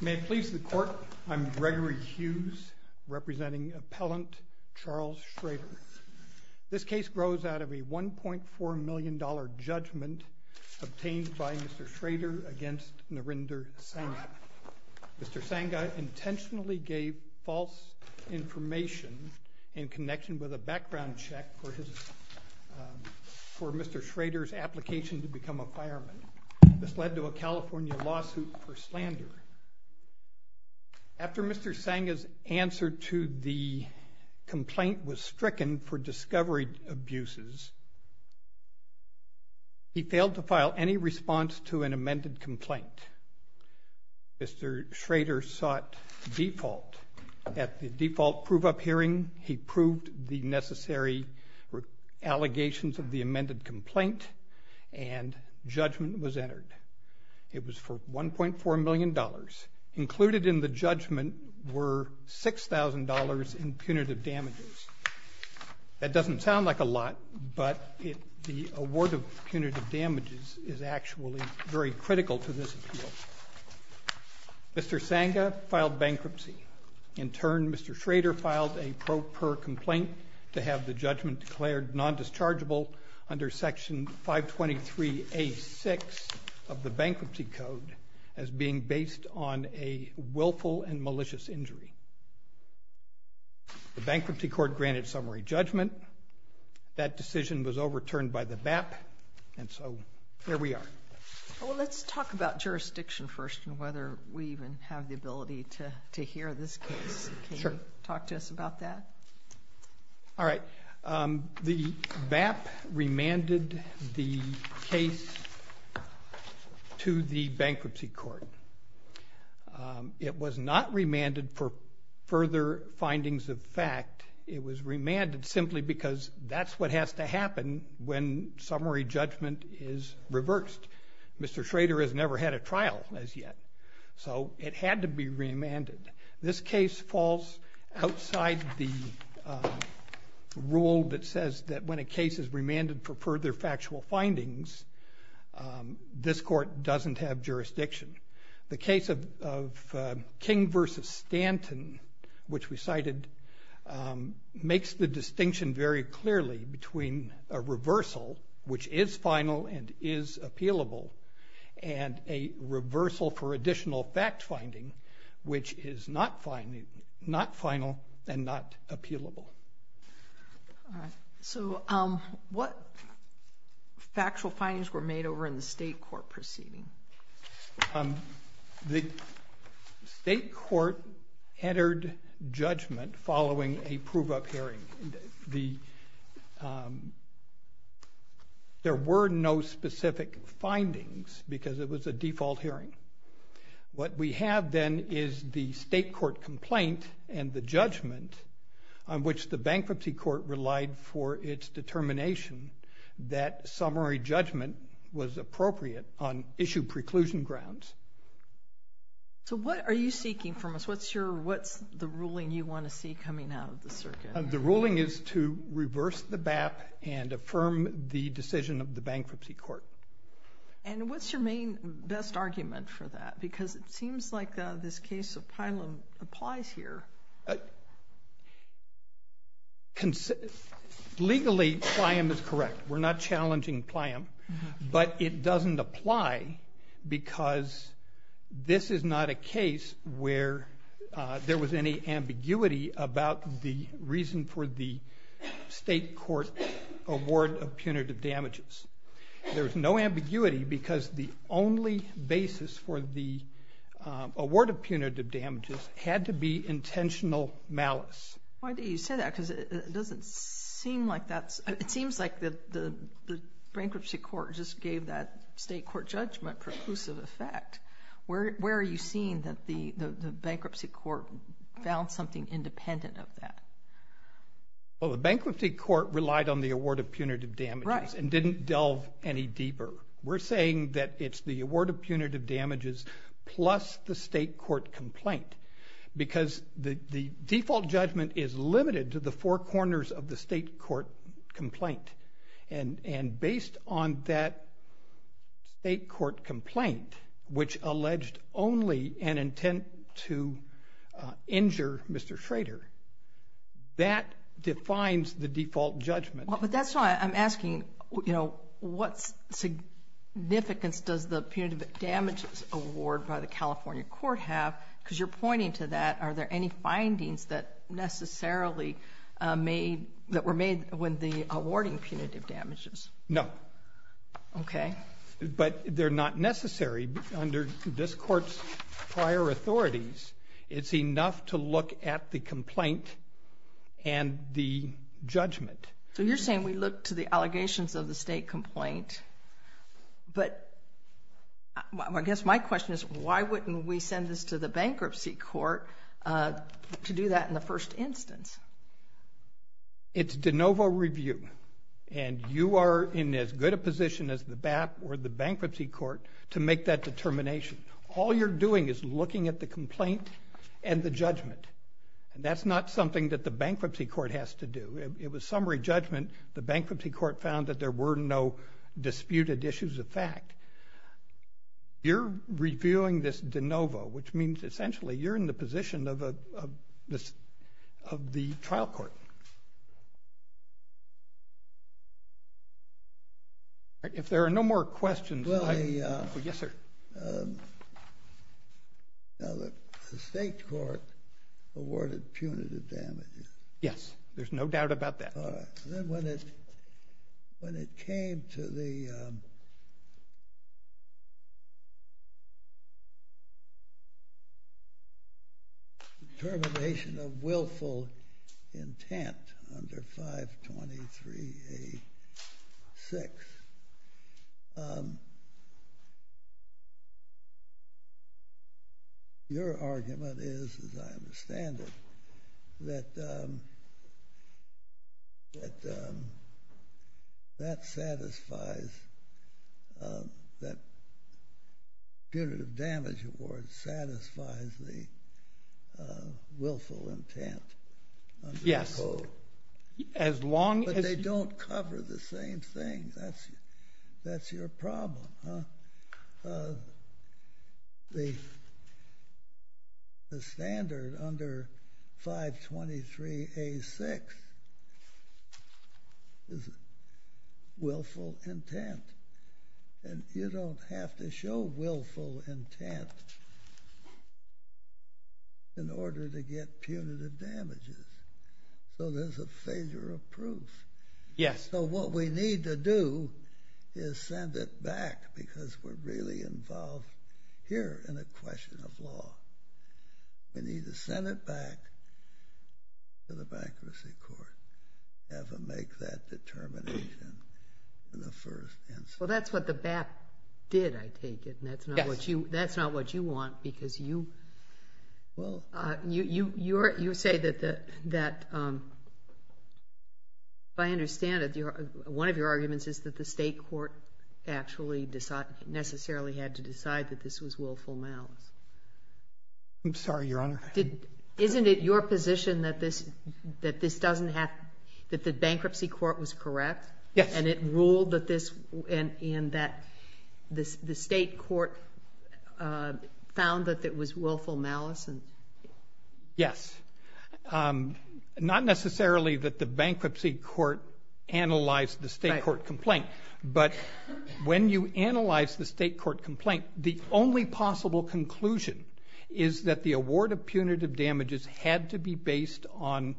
May it please the court, I'm Gregory Hughes, representing appellant Charles Schrader. This case grows out of a $1.4 million judgment obtained by Mr. Schrader against Narinder Sangha. Mr. Sangha intentionally gave false information in connection with a background check for Mr. Schrader's application to become a fireman. This led to a California lawsuit for slander. After Mr. Sangha's answer to the complaint was stricken for discovery abuses, he failed to file any response to an amended complaint. Mr. Schrader sought default. At the default prove-up hearing, he proved the necessary allegations of the amended complaint and judgment was entered. It was for $1.4 million. Included in the judgment were $6,000 in punitive damages. That doesn't sound like a lot, but the award of punitive damages is actually very critical to this appeal. Mr. Sangha filed bankruptcy. In turn, Mr. Schrader filed a pro-per complaint to have the judgment declared non-dischargeable under Section 523A6 of the Bankruptcy Code as being based on a willful and malicious injury. The Bankruptcy Court granted summary judgment. That decision was overturned by the BAP, and so here we are. Well, let's talk about jurisdiction first and whether we even have the ability to hear this case. Sure. Can you talk to us about that? All right. The BAP remanded the case to the Bankruptcy Court. It was not remanded for further findings of fact. It was remanded simply because that's what has to happen when summary judgment is reversed. Mr. Schrader has never had a trial as yet, so it had to be remanded. This case falls outside the rule that says that when a case is remanded for further factual findings, this court doesn't have jurisdiction. The case of King v. Stanton, which we cited, makes the distinction very clearly between a reversal, which is final and is appealable, and a reversal for additional fact-finding, which is not final and not appealable. All right. So what factual findings were made over in the state court proceeding? The state court entered judgment following a prove-up hearing. There were no specific findings because it was a default hearing. What we have then is the state court complaint and the judgment on which the Bankruptcy Court relied for its determination that summary judgment was appropriate on issue preclusion grounds. So what are you seeking from us? What's the ruling you want to see coming out of the circuit? The ruling is to reverse the BAP and affirm the decision of the Bankruptcy Court. And what's your main best argument for that? Because it seems like this case of Plylum applies here. Legally, Plyum is correct. We're not challenging Plyum. But it doesn't apply because this is not a case where there was any ambiguity about the reason for the state court award of punitive damages. There was no ambiguity because the only basis for the award of punitive damages had to be intentional malice. Why do you say that? Because it doesn't seem like that's, it seems like the Bankruptcy Court just gave that state court judgment preclusive effect. Where are you seeing that the Bankruptcy Court found something independent of that? Well, the Bankruptcy Court relied on the award of punitive damages and didn't delve any deeper. We're saying that it's the award of punitive damages plus the state court complaint. Because the default judgment is limited to the four corners of the state court complaint. And based on that state court complaint, which alleged only an intent to injure Mr. Schrader, that defines the default judgment. But that's why I'm asking, you know, what significance does the punitive damages award by the California court have? Because you're pointing to that. Are there any findings that necessarily made, that were made when the awarding punitive damages? No. Okay. But they're not necessary under this court's prior authorities. It's enough to look at the complaint and the judgment. So you're saying we look to the allegations of the state complaint. But I guess my question is, why wouldn't we send this to the Bankruptcy Court to do that in the first instance? It's de novo review. And you are in as good a position as the BAP or the Bankruptcy Court to make that determination. All you're doing is looking at the complaint and the judgment. That's not something that the Bankruptcy Court has to do. It was summary judgment. The Bankruptcy Court found that there were no disputed issues of fact. You're reviewing this de novo, which means essentially you're in the position of the trial court. If there are no more questions, I— Well, the— Yes, sir. Now, the state court awarded punitive damages. Yes. There's no doubt about that. All right. Then when it came to the termination of willful intent under 523A6, your argument is, as I understand it, that that satisfies—that punitive damage award satisfies the willful intent under the code. Yes. As long as— That's your problem, huh? The standard under 523A6 is willful intent. And you don't have to show willful intent in order to get punitive damages. So there's a failure of proof. Yes. And so what we need to do is send it back because we're really involved here in a question of law. We need to send it back to the Bankruptcy Court to have them make that determination in the first instance. Well, that's what the BAP did, I take it. Yes. And that's not what you want because you— Well— You say that, if I understand it, one of your arguments is that the State Court actually necessarily had to decide that this was willful malice. I'm sorry, Your Honor. Isn't it your position that this doesn't have—that the Bankruptcy Court was correct? Yes. And it ruled that this—and that the State Court found that it was willful malice? Yes. Not necessarily that the Bankruptcy Court analyzed the State Court complaint. But when you analyze the State Court complaint, the only possible conclusion is that the award of punitive damages had to be based on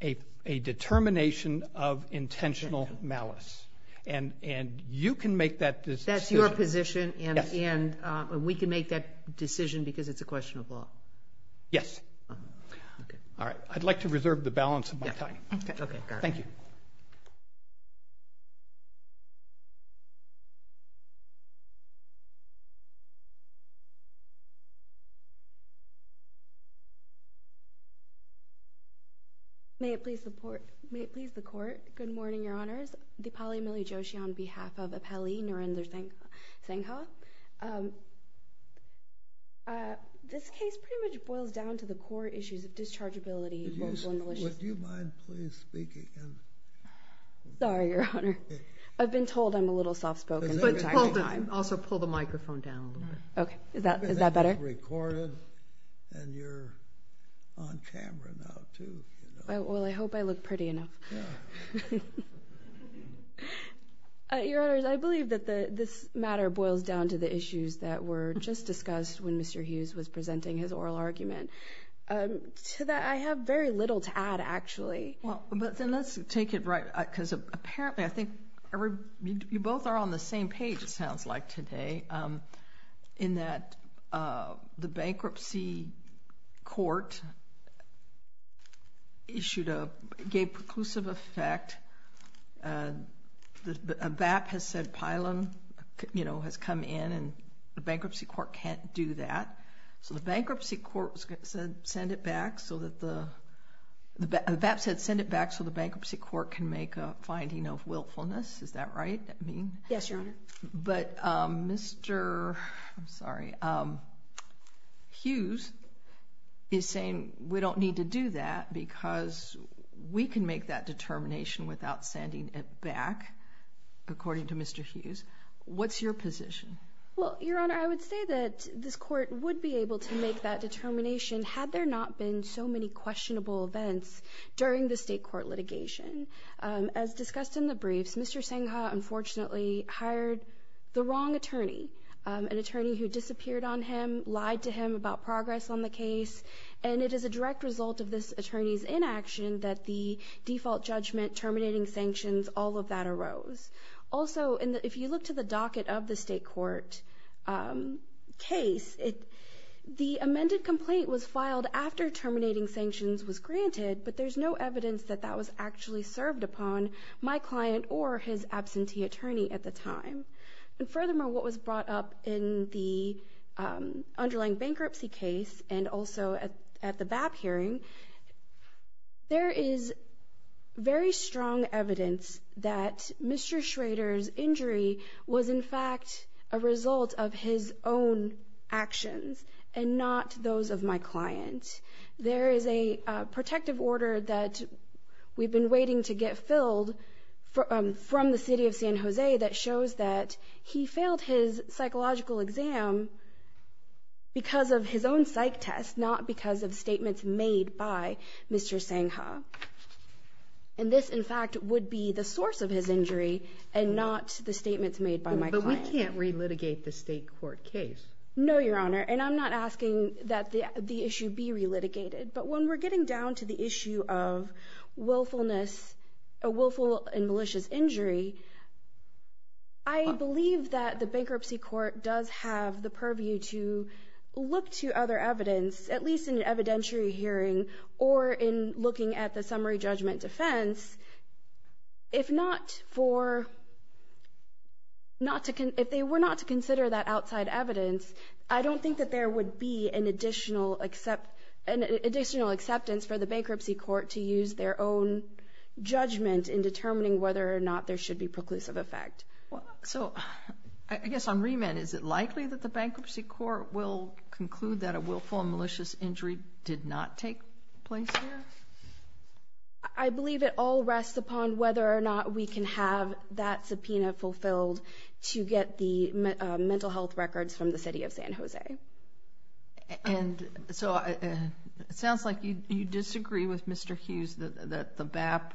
a determination of intentional malice. And you can make that decision. That's your position? Yes. And we can make that decision because it's a question of law? Yes. All right. I'd like to reserve the balance of my time. Okay. Thank you. May it please the Court, good morning, Your Honors. Dipali Milley Joshi on behalf of Apelli Narenderthal Senghaw. This case pretty much boils down to the core issues of dischargeability, willful malice— Would you mind please speaking again? Sorry, Your Honor. I've been told I'm a little soft-spoken the entire time. Also, pull the microphone down a little bit. Okay. Is that better? Because it's recorded and you're on camera now, too. Well, I hope I look pretty enough. Your Honors, I believe that this matter boils down to the issues that were just discussed when Mr. Hughes was presenting his oral argument. To that, I have very little to add, actually. Well, then let's take it right—because apparently, I think you both are on the same page, it sounds like, today, in that the bankruptcy court issued a—gave preclusive effect. A BAP has said pylon has come in, and the bankruptcy court can't do that. So the bankruptcy court said send it back so that the—the BAP said send it back so the bankruptcy court can make a finding of willfulness. Is that right? Yes, Your Honor. But Mr.—I'm sorry—Hughes is saying we don't need to do that because we can make that determination without sending it back, according to Mr. Hughes. What's your position? Well, Your Honor, I would say that this court would be able to make that determination had there not been so many questionable events during the state court litigation. As discussed in the briefs, Mr. Sengha, unfortunately, hired the wrong attorney, an attorney who disappeared on him, lied to him about progress on the case, and it is a direct result of this attorney's inaction that the default judgment, terminating sanctions, all of that arose. Also, if you look to the docket of the state court case, the amended complaint was filed after terminating sanctions was granted, but there's no evidence that that was actually served upon my client or his absentee attorney at the time. And furthermore, what was brought up in the underlying bankruptcy case and also at the BAP hearing, there is very strong evidence that Mr. Schrader's injury was, in fact, a result of his own actions and not those of my client. There is a protective order that we've been waiting to get filled from the city of San Jose that shows that he failed his psychological exam because of his own psych test, not because of statements made by Mr. Sengha. And this, in fact, would be the source of his injury and not the statements made by my client. But we can't re-litigate the state court case. No, Your Honor, and I'm not asking that the issue be re-litigated, but when we're getting down to the issue of willfulness, a willful and malicious injury, I believe that the bankruptcy court does have the purview to look to other evidence, at least in an evidentiary hearing or in looking at the summary judgment defense, if they were not to consider that outside evidence, I don't think that there would be an additional acceptance for the bankruptcy court to use their own judgment in determining whether or not there should be preclusive effect. So, I guess on remand, is it likely that the bankruptcy court will conclude that a willful and malicious injury did not take place there? I believe it all rests upon whether or not we can have that subpoena fulfilled to get the mental health records from the city of San Jose. And so, it sounds like you disagree with Mr. Hughes that the BAP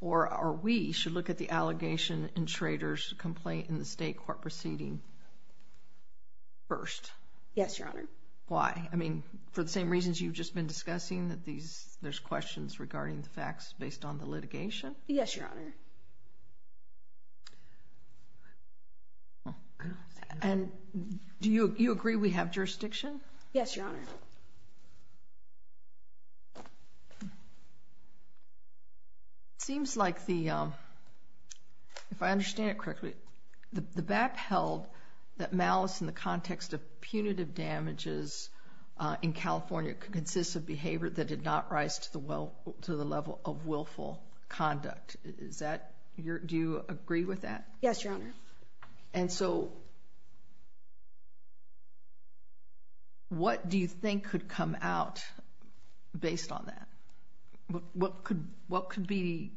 or we should look at the allegation in Schrader's complaint in the state court proceeding first. Yes, Your Honor. Why? I mean, for the same reasons you've just been discussing, that there's questions regarding the facts based on the litigation? Yes, Your Honor. And do you agree we have jurisdiction? Yes, Your Honor. It seems like the, if I understand it correctly, the BAP held that malice in the context of punitive damages in California consists of behavior that did not rise to the level of willful conduct. Is that, do you agree with that? Yes, Your Honor. And so, what do you think could come out based on that? What could be,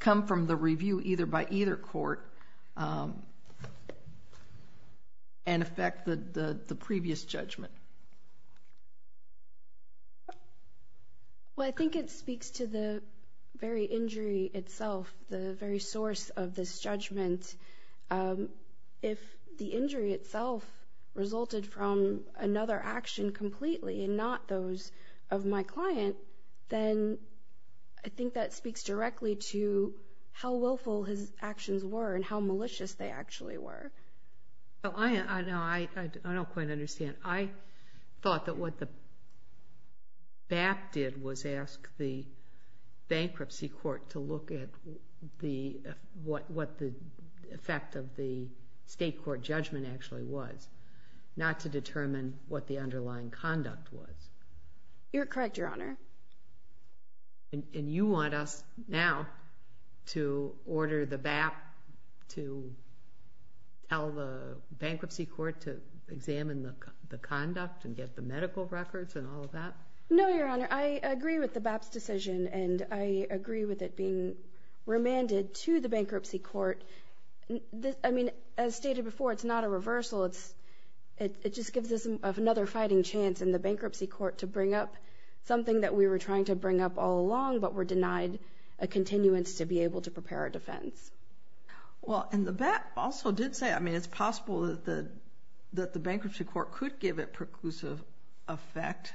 come from the review either by either court and affect the previous judgment? Well, I think it speaks to the very injury itself, the very source of this judgment. If the injury itself resulted from another action completely and not those of my client, then I think that speaks directly to how willful his actions were and how malicious they actually were. I don't quite understand. I thought that what the BAP did was ask the bankruptcy court to look at what the effect of the state court judgment actually was, not to determine what the underlying conduct was. You're correct, Your Honor. And you want us now to order the BAP to tell the bankruptcy court to examine the conduct and get the medical records and all of that? No, Your Honor. I agree with the BAP's decision, and I agree with it being remanded to the bankruptcy court. I mean, as stated before, it's not a reversal. It just gives us another fighting chance in the bankruptcy court to bring up something that we were trying to bring up all along but were denied a continuance to be able to prepare a defense. Well, and the BAP also did say, I mean, it's possible that the bankruptcy court could give it preclusive effect.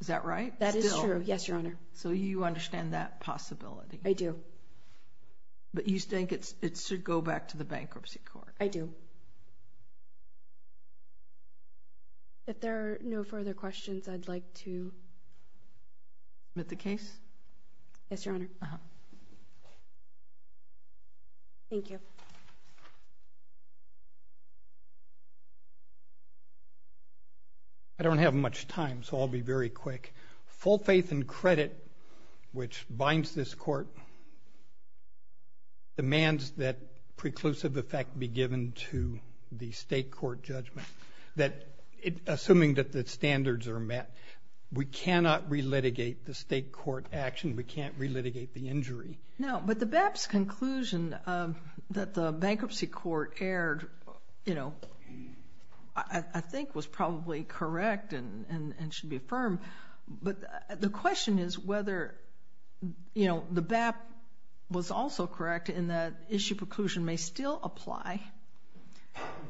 Is that right? That is true, yes, Your Honor. So you understand that possibility? I do. But you think it should go back to the bankruptcy court? I do. If there are no further questions, I'd like to submit the case. Yes, Your Honor. Thank you. I don't have much time, so I'll be very quick. Full faith and credit, which binds this court, demands that preclusive effect be given to the state court judgment. Assuming that the standards are met, we cannot relitigate the state court action. We can't relitigate the injury. No, but the BAP's conclusion that the bankruptcy court erred, you know, I think was probably correct and should be affirmed, but the question is whether, you know, the BAP was also correct in that issue preclusion may still apply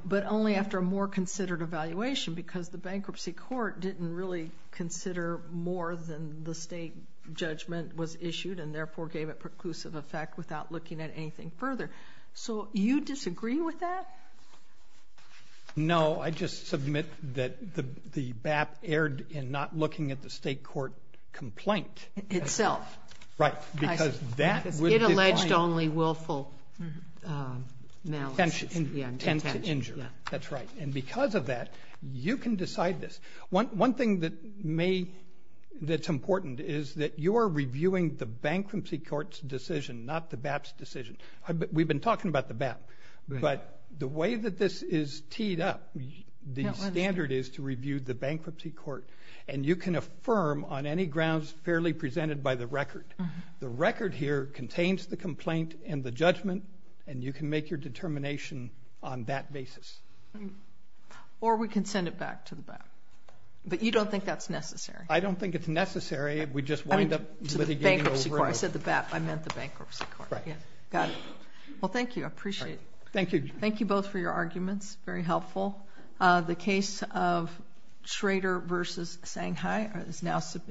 but only after a more considered evaluation because the bankruptcy court didn't really consider more than the state judgment was issued and therefore gave it preclusive effect without looking at anything further. So you disagree with that? No, I just submit that the BAP erred in not looking at the state court complaint. Itself. Right, because that would define. It alleged only willful malice. Intent to injure. That's right. And because of that, you can decide this. One thing that's important is that you are reviewing the bankruptcy court's decision, not the BAP's decision. We've been talking about the BAP, but the way that this is teed up, the standard is to review the bankruptcy court, and you can affirm on any grounds fairly presented by the record. The record here contains the complaint and the judgment, and you can make your determination on that basis. Or we can send it back to the BAP. But you don't think that's necessary? I don't think it's necessary. We just wind up litigating over it. I said the BAP. I meant the bankruptcy court. Right. Got it. Well, thank you. I appreciate it. Thank you. Thank you both for your arguments. Very helpful. The case of Schrader v. Shanghai is now submitted.